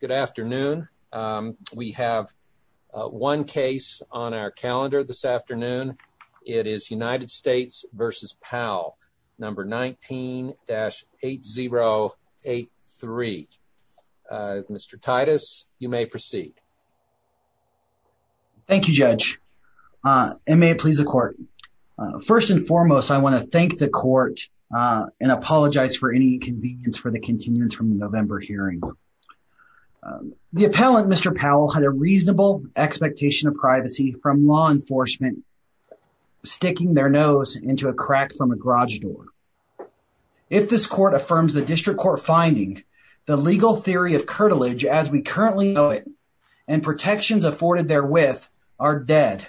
Good afternoon. We have one case on our calendar this afternoon. It is United States v. Powell, number 19-8083. Mr. Titus, you may proceed. Thank you, Judge, and may it please the Court. First and foremost, I want to thank the Court and apologize for any inconvenience for the from the November hearing. The appellant, Mr. Powell, had a reasonable expectation of privacy from law enforcement sticking their nose into a crack from a garage door. If this Court affirms the District Court finding, the legal theory of curtilage as we currently know it and protections afforded therewith are dead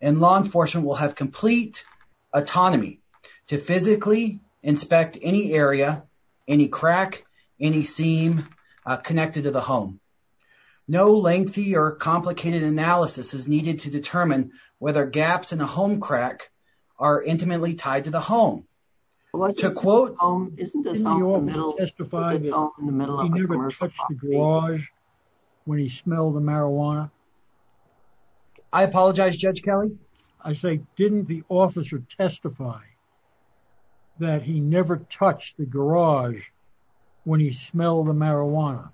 and law enforcement will have complete autonomy to physically inspect any area, any crack, any seam connected to the home. No lengthy or complicated analysis is needed to determine whether gaps in a home crack are intimately tied to the home. To quote... Didn't the officer testify that he never touched the garage when he smelled the marijuana? I apologize, Judge Kelly. I say, didn't the officer testify that he never touched the garage when he smelled the marijuana?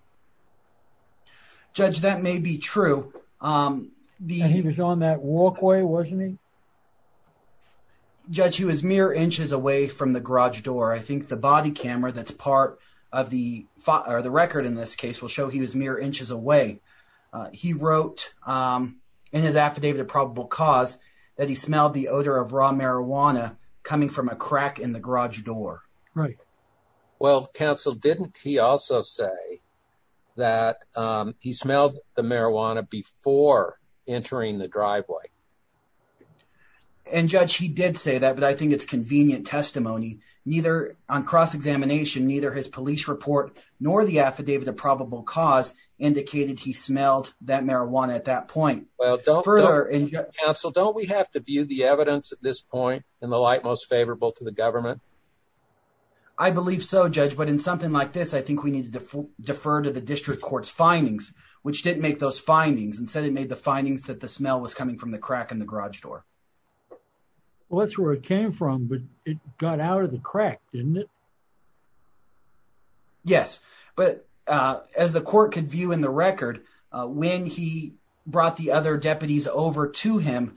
Judge, that may be true. He was on that walkway, wasn't he? Judge, he was mere inches away from the garage door. I think the body camera that's part of the record in this case will show he was mere inches away. He wrote in his affidavit of probable cause that he smelled the odor of raw marijuana coming from a crack in the garage door. Well, Counsel, didn't he also say that he smelled the marijuana before entering the driveway? And Judge, he did say that, but I think it's convenient testimony. Neither on cross-examination, neither his police report nor the affidavit of probable cause indicated he smelled that marijuana at that point. Well, Counsel, don't we have to view the evidence at this point in the light most favorable to the government? I believe so, Judge, but in something like this, I think we need to defer to the district court's findings, which didn't make those findings. Instead, it made the findings that the smell was coming from the crack in the garage door. Well, that's where it came from, but it got out of the crack, didn't it? Yes, but as the court could view in the record, when he brought the other deputies over to him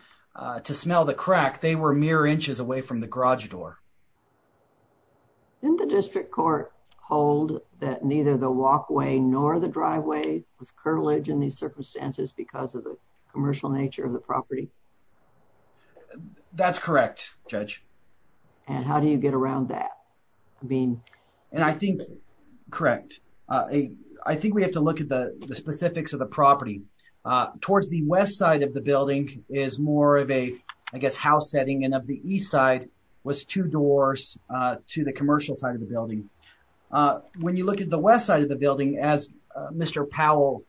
to smell the crack, they were mere inches away from the garage door. Didn't the district court hold that neither the walkway nor the driveway was curtilage in these circumstances because of the commercial nature of the property? That's correct, Judge. And how do you get around that? And I think, correct, I think we have to look at the specifics of the property. Towards the west side of the building is more of a, I guess, house setting, and of the east side was two doors to the commercial side of the building. When you look at the west side of the building, as Mr. Powell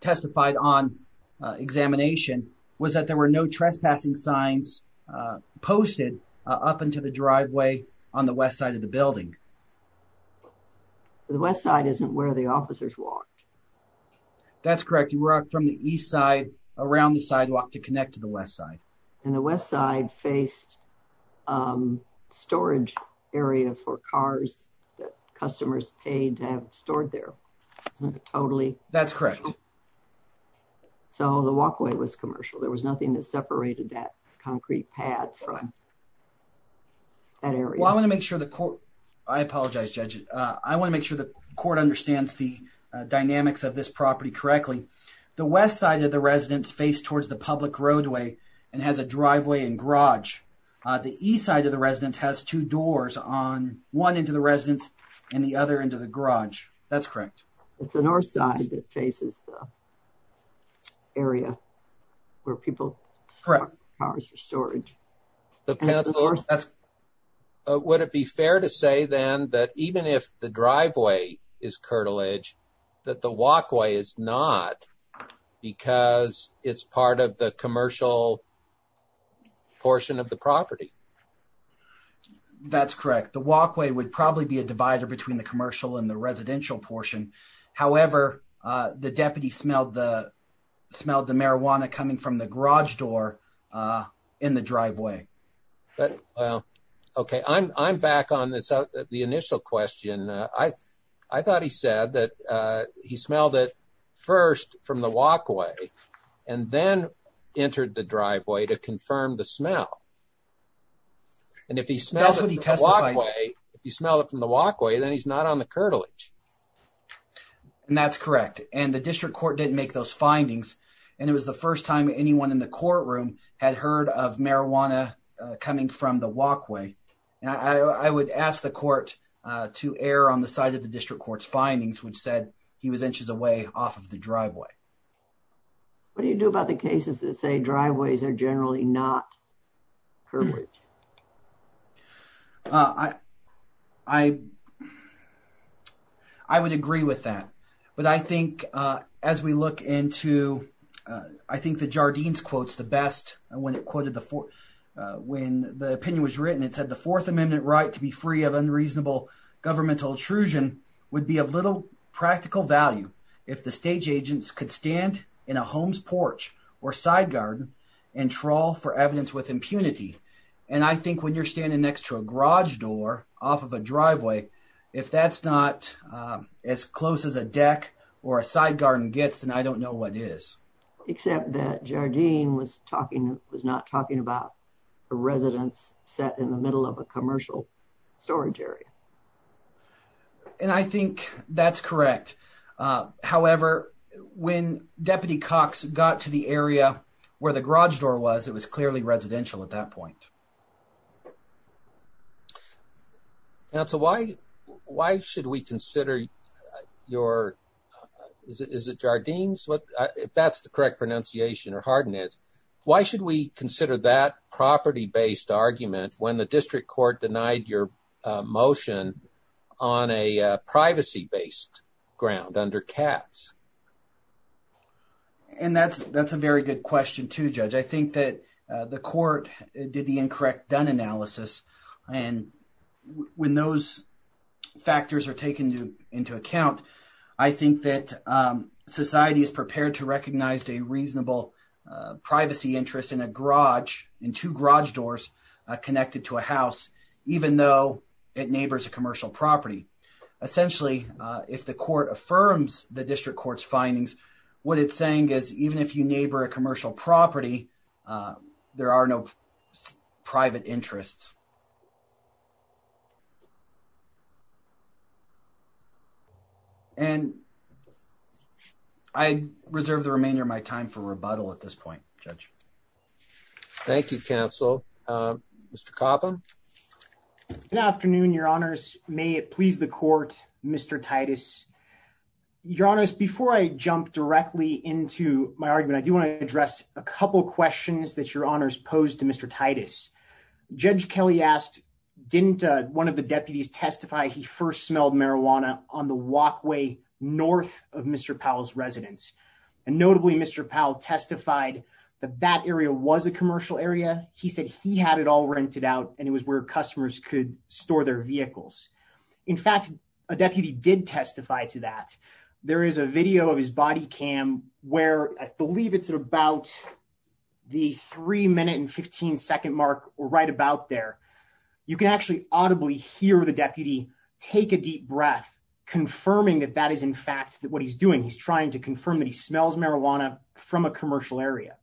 testified on examination, was that there were no trespassing signs posted up into the driveway on the west side of the building. The west side isn't where the officers walked. That's correct. You were out from the east side around the sidewalk to connect to the west side. And the west side faced storage area for cars that customers paid to have stored there. Totally. That's correct. So the walkway was commercial. There was nothing that separated that concrete pad from that area. Well, I want to make sure the court, I apologize, Judge. I want to make sure the court understands the dynamics of this property correctly. The west side of the residence faced towards the public roadway and has a driveway and garage. The east side of the residence has two doors on one end of the residence and the other end of the garage. That's correct. It's the north side that faces the area where people store cars for storage. Would it be fair to say then that even if the driveway is curtilage, that the walkway is not because it's part of the commercial portion of the property? That's correct. The walkway would probably be a divider between the commercial and the residential portion. However, the deputy smelled the marijuana coming from the garage door in the driveway. Okay, I'm back on the initial question. I thought he said that he smelled it first from the walkway and then entered the driveway to confirm the smell. And if he smells it from the walkway, then he's not on the curtilage. And that's correct. And the district court didn't make those findings. And it was the first time anyone in the courtroom had heard of marijuana coming from the walkway. And I would ask the court to err on the side of the district court's findings, which said he was inches away off of the driveway. What do you do about the cases that say driveways are generally not perfect? I would agree with that. But I think as we look into, I think the Jardines quotes the best. And when it quoted the fourth, when the opinion was written, it said the Fourth Amendment right to be free of unreasonable governmental intrusion would be of little practical value if the stage agents could stand in a home's porch or side garden and trawl for evidence with impunity. And I think when you're standing next to a garage door off of a driveway, if that's not as close as a deck or a side garden gets, then I don't know what it is. Except that Jardine was not talking about a residence set in the middle of a commercial storage area. And I think that's correct. However, when Deputy Cox got to the area where the garage door was, it was clearly residential at that point. Counsel, why should we consider your, is it Jardines? If that's the correct pronunciation or Hardin is, why should we consider that property-based argument when the district court denied your motion on a privacy-based ground under Katz? And that's a very good question too, Judge. I think that the court did the incorrect Dunn analysis. And when those factors are taken into account, I think that society is prepared to recognize a reasonable privacy interest in a garage, in two garage doors connected to a house, even though it neighbors a commercial property. Essentially, if the court affirms the district court's findings, what it's saying is even if you neighbor a commercial property, there are no private interests. And I reserve the remainder of my time for rebuttal at this point, Judge. Thank you, Counsel. Mr. Copham. Good afternoon, Your Honors. May it please the court, Mr. Titus. Your Honors, before I jump directly into my argument, I do want to address a couple of questions that Your Honors posed to Mr. Titus. Judge Kelly asked, didn't one of the deputies testify he first smelled marijuana on the walkway north of Mr. Powell's residence? And notably, Mr. Powell testified that that area was a commercial area. He said he had it all rented out and it was where customers could store their vehicles. In fact, a deputy did testify to that. There is a video of his body cam where I believe it's about the three minute and 15 second mark or right about there. You can actually audibly hear the deputy take a deep breath, confirming that that is in fact what he's doing. He's trying to confirm that he smells marijuana from a commercial area.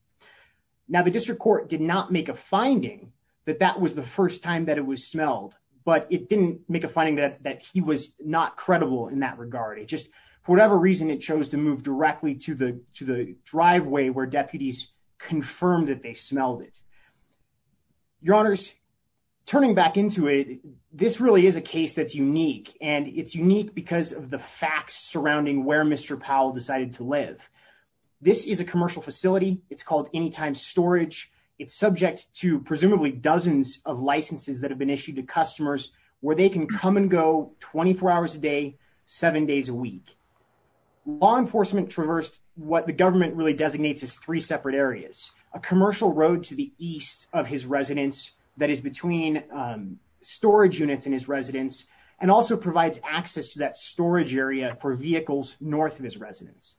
Now, the district court did not make a finding that that was the first time that it was smelled, but it didn't make a finding that he was not credible in that regard. It just, for whatever reason, it chose to move directly to the driveway where deputies confirmed that they smelled it. Your Honors, turning back into it, this really is a case that's unique, and it's unique because of the facts surrounding where Mr. Powell decided to live. This is a commercial facility. It's called Anytime Storage. It's subject to presumably dozens of licenses that have been issued to customers where they can come and go 24 hours a day, seven days a week. Law enforcement traversed what the government really designates as three separate areas, a commercial road to the east of his residence that is between storage units in his residence and also provides access to that storage area for vehicles north of his residence.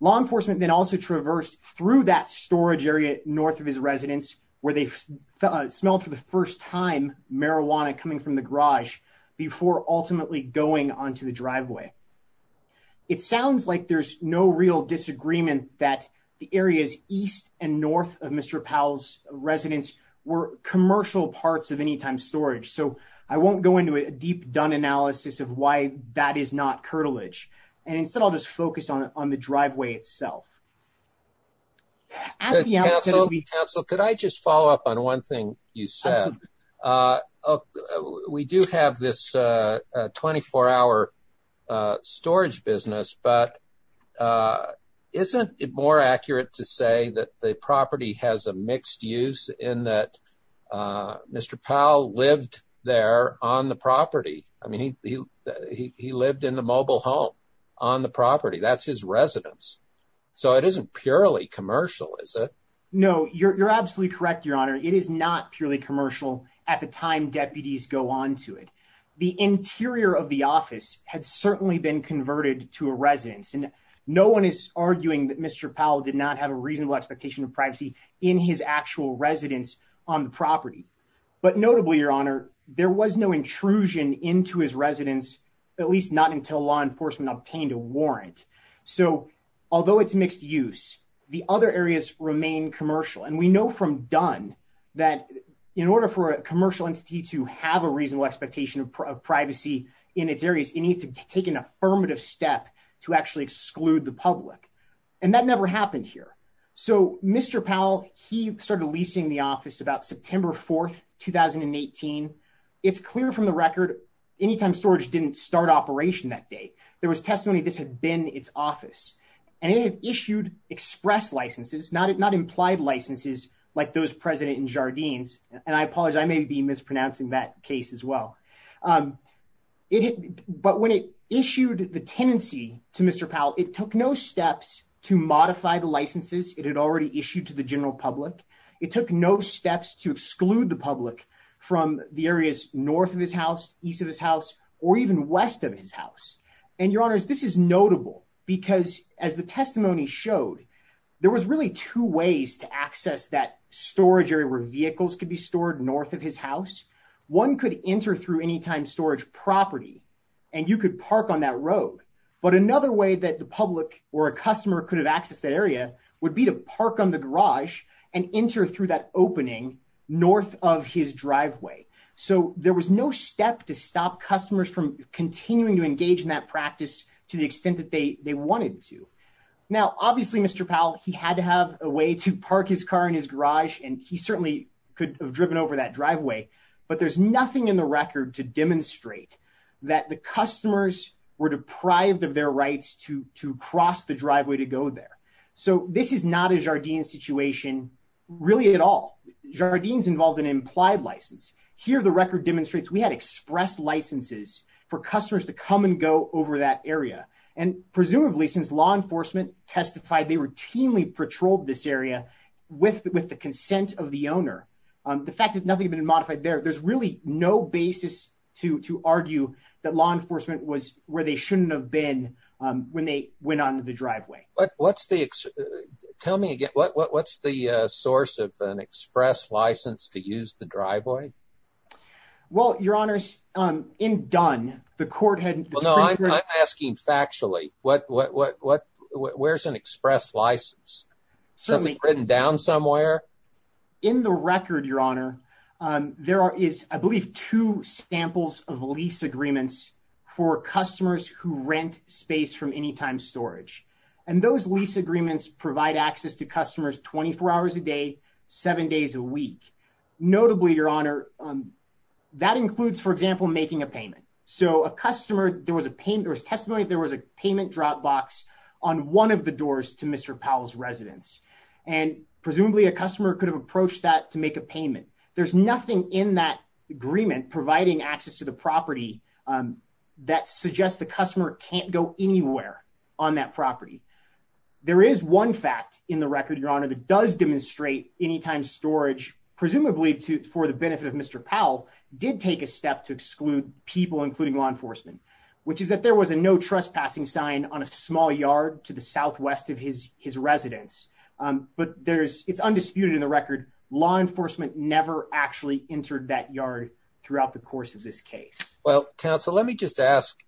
Law enforcement then also traversed through that storage area north of his residence where they smelled for the first time marijuana coming from the garage before ultimately going onto the driveway. It sounds like there's no real disagreement that the areas east and north of Mr. Powell's residence were commercial parts of Anytime Storage, so I won't go into a deep-dug analysis of why that is not curtilage, and instead I'll just focus on the driveway itself. Could I just follow up on one thing you said? We do have this 24-hour storage business, but isn't it more accurate to say that the property has a mixed use in that Mr. Powell lived there on the property? I mean, he lived in the mobile home on the property. That's his residence, so it isn't purely commercial, is it? No, you're absolutely correct, Your Honor. It is not purely commercial at the time deputies go onto it. The interior of the office had certainly been converted to a residence, and no one is arguing that Mr. Powell did not have a reasonable expectation of privacy in his actual residence on the property. But notably, Your Honor, there was no intrusion into his residence, at least not until law enforcement obtained a warrant. Although it's mixed use, the other areas remain commercial, and we know from Dunn that in order for a commercial entity to have a reasonable expectation of privacy in its areas, it needs to take an affirmative step to actually exclude the public, and that never happened here. So Mr. Powell, he started leasing the office about September 4th, 2018. It's clear from the record Anytime Storage didn't start operation that day. There was testimony this had been its office, and it had issued express licenses, not implied licenses like those present in Jardines. And I apologize, I may be mispronouncing that case as well. But when it issued the tenancy to Mr. Powell, it took no steps to modify the licenses it had already issued to the general public. It took no steps to exclude the public from the areas north of his house, east of his house, or even west of his house. And Your Honors, this is notable because as the testimony showed, there was really two ways to access that storage area where vehicles could be stored north of his house. One could enter through Anytime Storage property, and you could park on that road. But another way that the public or a customer could have accessed that area would be to park on the garage and enter through that opening north of his driveway. So there was no step to stop customers from continuing to engage in that practice to the extent that they wanted to. Now, obviously, Mr. Powell, he had to have a way to park his car in his garage, and he certainly could have driven over that driveway. But there's nothing in the record to demonstrate that the customers were deprived of their rights to cross the driveway to go there. So this is not a Jardine situation, really, at all. Jardines involved an implied license. Here, the record demonstrates we had express licenses for customers to come and go over that area. And presumably, since law enforcement testified, they routinely patrolled this area with the consent of the owner. The fact that nothing had been modified there, there's really no basis to argue that law enforcement was where they shouldn't have been when they went onto the driveway. Tell me again, what's the source of an express license to use the driveway? Well, Your Honor, in Dunn, the court had... Well, no, I'm asking factually. Where's an express license? Something written down somewhere? In the record, Your Honor, there is, I believe, two samples of lease agreements for customers who rent space from Anytime Storage. And those lease agreements provide access to customers 24 hours a day, seven days a week. Notably, Your Honor, that includes, for example, making a payment. So a customer, there was testimony that there was a payment drop box on one of the doors to Mr. Powell's residence. And presumably, a customer could have approached that to make a payment. There's nothing in that agreement providing access to the property that suggests the customer can't go anywhere on that property. There is one fact in the record, Your Honor, that does demonstrate Anytime Storage, presumably for the benefit of Mr. Powell, did take a step to exclude people, including law enforcement, which is that there was a no trespassing sign on a small yard to the southwest of his residence. But it's undisputed in the record, law enforcement never actually entered that yard throughout the course of this case. Well, counsel, let me just ask,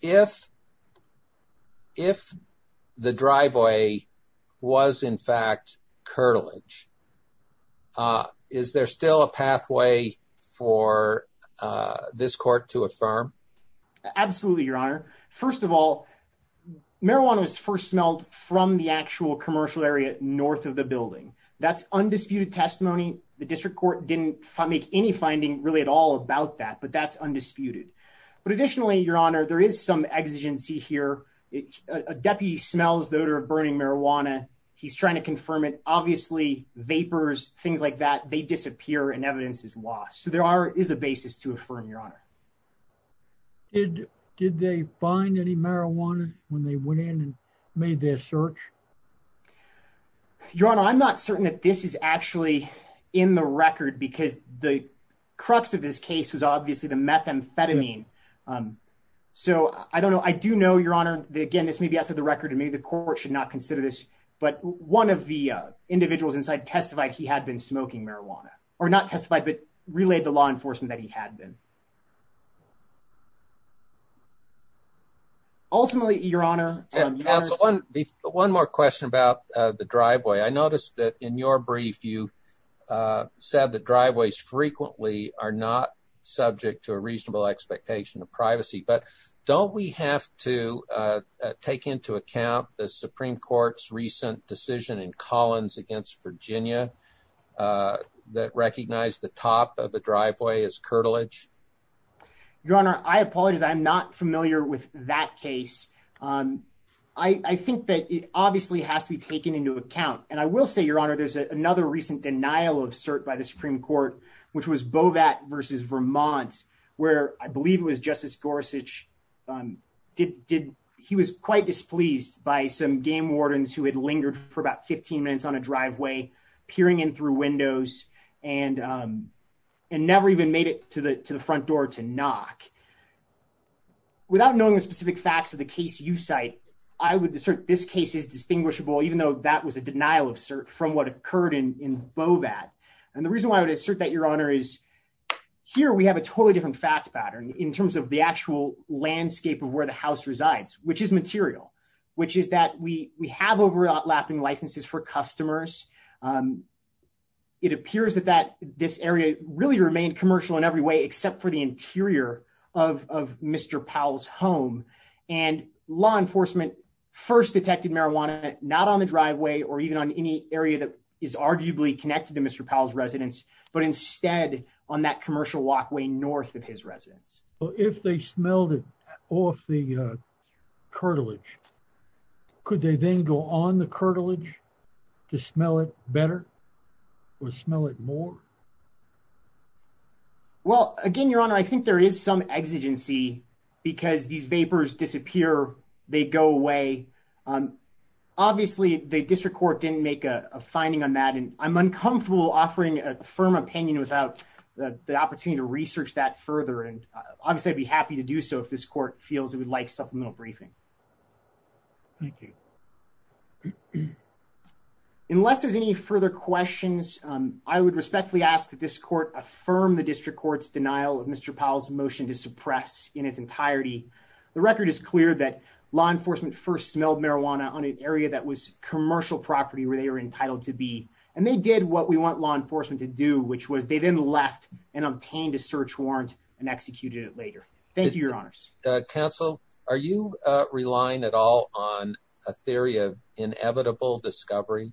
if the driveway was, in fact, curtilage, is there still a pathway for this court to affirm? Absolutely, Your Honor. First of all, marijuana was first smelled from the actual commercial area north of the building. That's undisputed testimony. The district court didn't make any finding really at all about that, but that's undisputed. But additionally, Your Honor, there is some exigency here. A deputy smells the odor of burning marijuana. He's trying to confirm it. Obviously, vapors, things like that, they disappear and evidence is lost. So there is a basis to affirm, Your Honor. Did they find any marijuana when they went in and made their search? Your Honor, I'm not certain that this is actually in the record, because the crux of this case was obviously the methamphetamine. So I don't know. I do know, Your Honor, again, this may be outside the record, and maybe the court should not consider this, but one of the individuals inside testified he had been smoking marijuana, or not testified, but relayed to law enforcement that he had been. Ultimately, Your Honor, one more question about the driveway. I noticed that in your brief, you said the driveways frequently are not subject to a reasonable expectation of privacy. But don't we have to take into account the Supreme Court's recent decision in Collins against Virginia that recognized the top of the driveway as curtilage? Your Honor, I apologize. I'm not familiar with that case. I think that it obviously has to be taken into account. And I will say, Your Honor, there's another recent denial of cert by the Supreme Court, which was Bovat versus Vermont, where I believe it was Justice Gorsuch. He was quite displeased by some game wardens who had lingered for about 15 minutes on a driveway, peering in through windows, and never even made it to the front door to knock. Without knowing the specific facts of the case you cite, I would assert this case is distinguishable, even though that was a denial of cert from what occurred in Bovat. And the reason why I would assert that, Your Honor, is here we have a totally different fact pattern in terms of the actual landscape of where the house resides, which is material, which is that we have overlapping licenses for customers. It appears that this area really remained commercial in every way, except for the interior of Mr. Powell's home. And law enforcement first detected marijuana not on the driveway or even on any area that is arguably connected to Mr. Powell's residence, but instead on that commercial walkway north of his residence. Well, if they smelled it off the curtilage, could they then go on the curtilage to smell it better or smell it more? Well, again, Your Honor, I think there is some exigency because these vapors disappear, they go away. Obviously, the district court didn't make a finding on that, and I'm uncomfortable offering a firm opinion without the opportunity to research that further. And obviously, I'd be happy to do so if this court feels it would like supplemental briefing. Thank you. Unless there's any further questions, I would respectfully ask that this court affirm the district court's denial of Mr. Powell's motion to suppress in its entirety. The record is clear that law enforcement first smelled marijuana on an area that was commercial property where they were entitled to be. And they did what we want law enforcement to do, which was they then left and obtained a search warrant and executed it later. Thank you, Your Honors. Counsel, are you relying at all on a theory of inevitable discovery?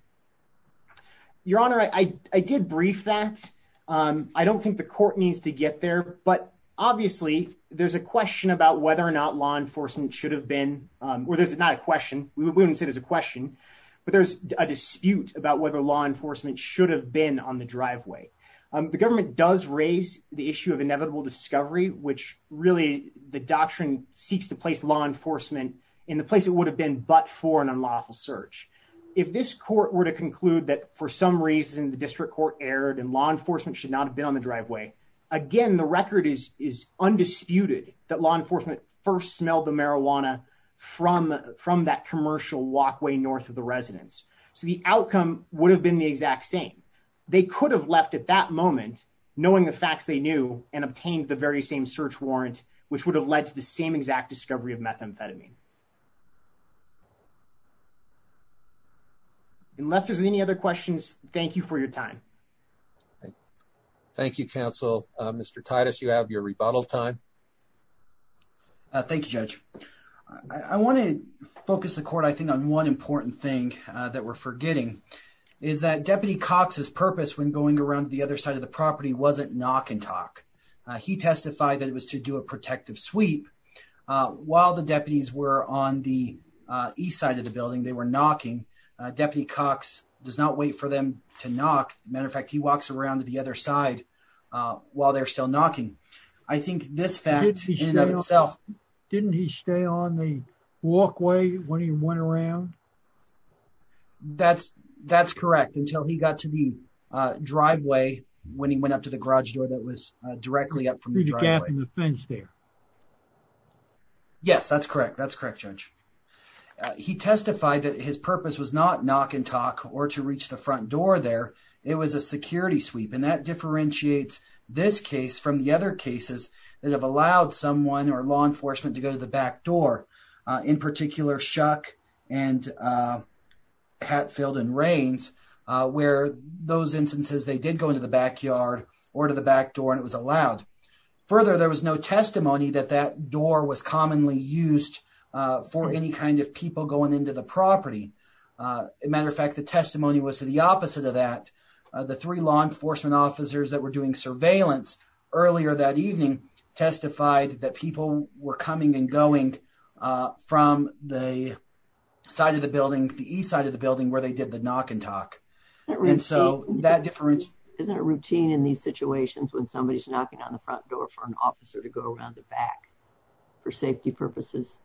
Your Honor, I did brief that. I don't think the court needs to get there. But obviously, there's a question about whether or not law enforcement should have been, or there's not a question, we wouldn't say there's a question, but there's a dispute about whether law enforcement should have been on the driveway. The government does raise the issue of inevitable discovery, which really the doctrine seeks to place law enforcement in the place it would have been but for an unlawful search. If this court were to conclude that for some reason, the district court erred and law enforcement should not have been on the driveway. Again, the record is undisputed that law enforcement first smelled the marijuana from that commercial walkway north of the residence. So the outcome would have been the exact same. They could have left at that moment, knowing the facts they knew and obtained the very same search warrant, which would have led to the same exact discovery of methamphetamine. Unless there's any other questions, thank you for your time. Thank you, Counsel. Mr. Titus, you have your rebuttal time. Thank you, Judge. I want to focus the court, I think, on one important thing that we're forgetting, is that Deputy Cox's purpose when going around to the other side of the property wasn't knock and talk. He testified that it was to do a protective sweep. While the deputies were on the east side of the building, they were knocking. Deputy Cox does not wait for them to knock. As a matter of fact, he walks around to the other side while they're still knocking. I think this fact in and of itself... Didn't he stay on the walkway when he went around? That's correct, until he got to the driveway when he went up to the garage door that was directly up from the driveway. Through the gap in the fence there. Yes, that's correct. That's correct, Judge. He testified that his purpose was not knock and talk or to reach the front door there. It was a security sweep. And that differentiates this case from the other cases that have allowed someone or law enforcement to go to the back door, in particular, Shuck and Hatfield and Rains, where those instances they did go into the backyard or to the back door and it was allowed. Further, there was no testimony that that door was commonly used for any kind of people going into the property. As a matter of fact, the testimony was to the opposite of that. The three law enforcement officers that were doing surveillance earlier that evening testified that people were coming and going from the side of the building, the east side of the building, where they did the knock and talk. And so that difference... Isn't it routine in these situations when somebody's knocking on the front door for an officer to go around the back for safety purposes?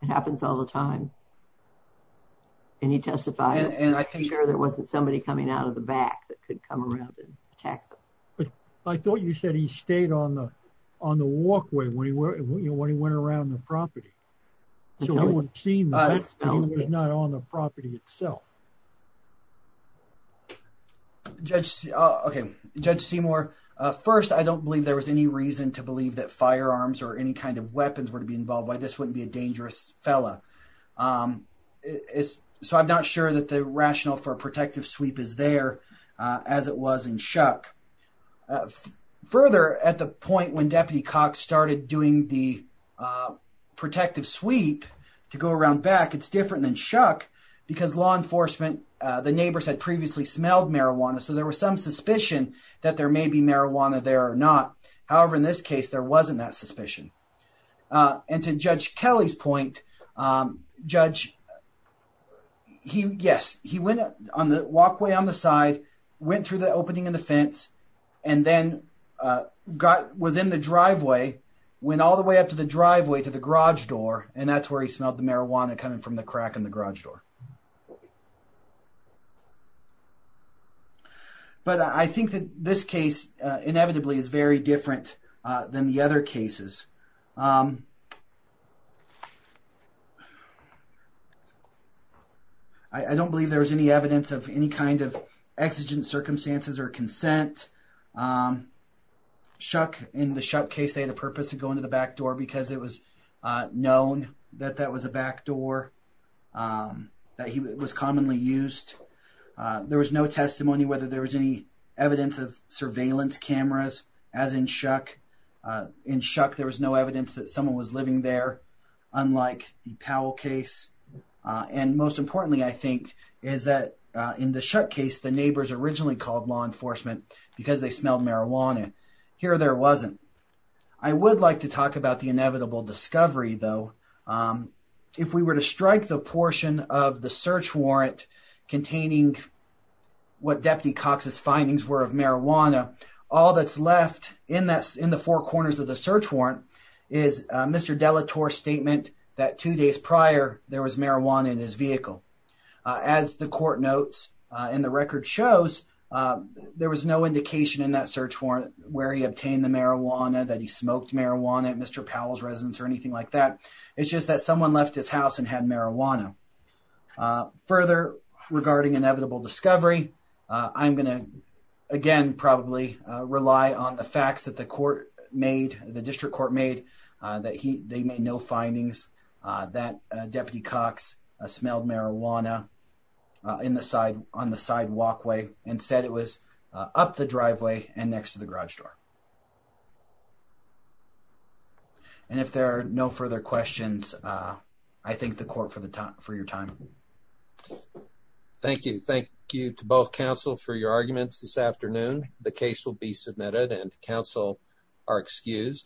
It happens all the time. And he testified that there wasn't somebody coming out of the back that could come around and attack them. But I thought you said he stayed on the walkway when he went around the property. So he would have seen that, but he was not on the property itself. Judge Seymour, first, I don't believe there was any reason to believe that firearms or any kind of weapons were to be involved. Why, this wouldn't be a dangerous fella. So I'm not sure that the rationale for a protective sweep is there as it was in Shuck. Further, at the point when Deputy Cox started doing the protective sweep to go around back, it's different than Shuck because law enforcement, the neighbors had previously smelled marijuana. So there was some suspicion that there may be marijuana there or not. However, in this case, there wasn't that suspicion. And to Judge Kelly's point, Judge... Yes, he went on the walkway on the side, went through the opening in the fence, and then was in the driveway, went all the way up to the driveway to the garage door, and that's where he smelled the marijuana coming from the crack in the garage door. But I think that this case, inevitably, is very different than the other cases. I don't believe there was any evidence of any kind of exigent circumstances or consent. Shuck, in the Shuck case, they had a purpose to go into the back door because it was known that that was a back door that was commonly used. There was no testimony whether there was any evidence of surveillance cameras, as in Shuck. In Shuck, there was no evidence that someone was living there, unlike the Powell case. And most importantly, I think, is that in the Shuck case, the neighbors originally called law enforcement because they smelled marijuana. Here, there wasn't. I would like to talk about the inevitable discovery, though. If we were to strike the portion of the search warrant containing what Deputy Cox's findings were of marijuana, all that's left in the four corners of the search warrant is Mr. De La Torre's statement that two days prior, there was marijuana in his vehicle. As the court notes and the record shows, there was no indication in that search warrant where he obtained the marijuana, that he smoked marijuana at Mr. Powell's residence, or anything like that. It's just that someone left his house and had marijuana. Further, regarding inevitable discovery, I'm going to, again, probably rely on the facts that the court made, the district court made, that they made no findings that Deputy Cox smelled marijuana on the side walkway. Instead, it was up the driveway and next to the garage door. And if there are no further questions, I thank the court for your time. Thank you. Thank you to both counsel for your arguments this afternoon. The case will be submitted and counsel are excused.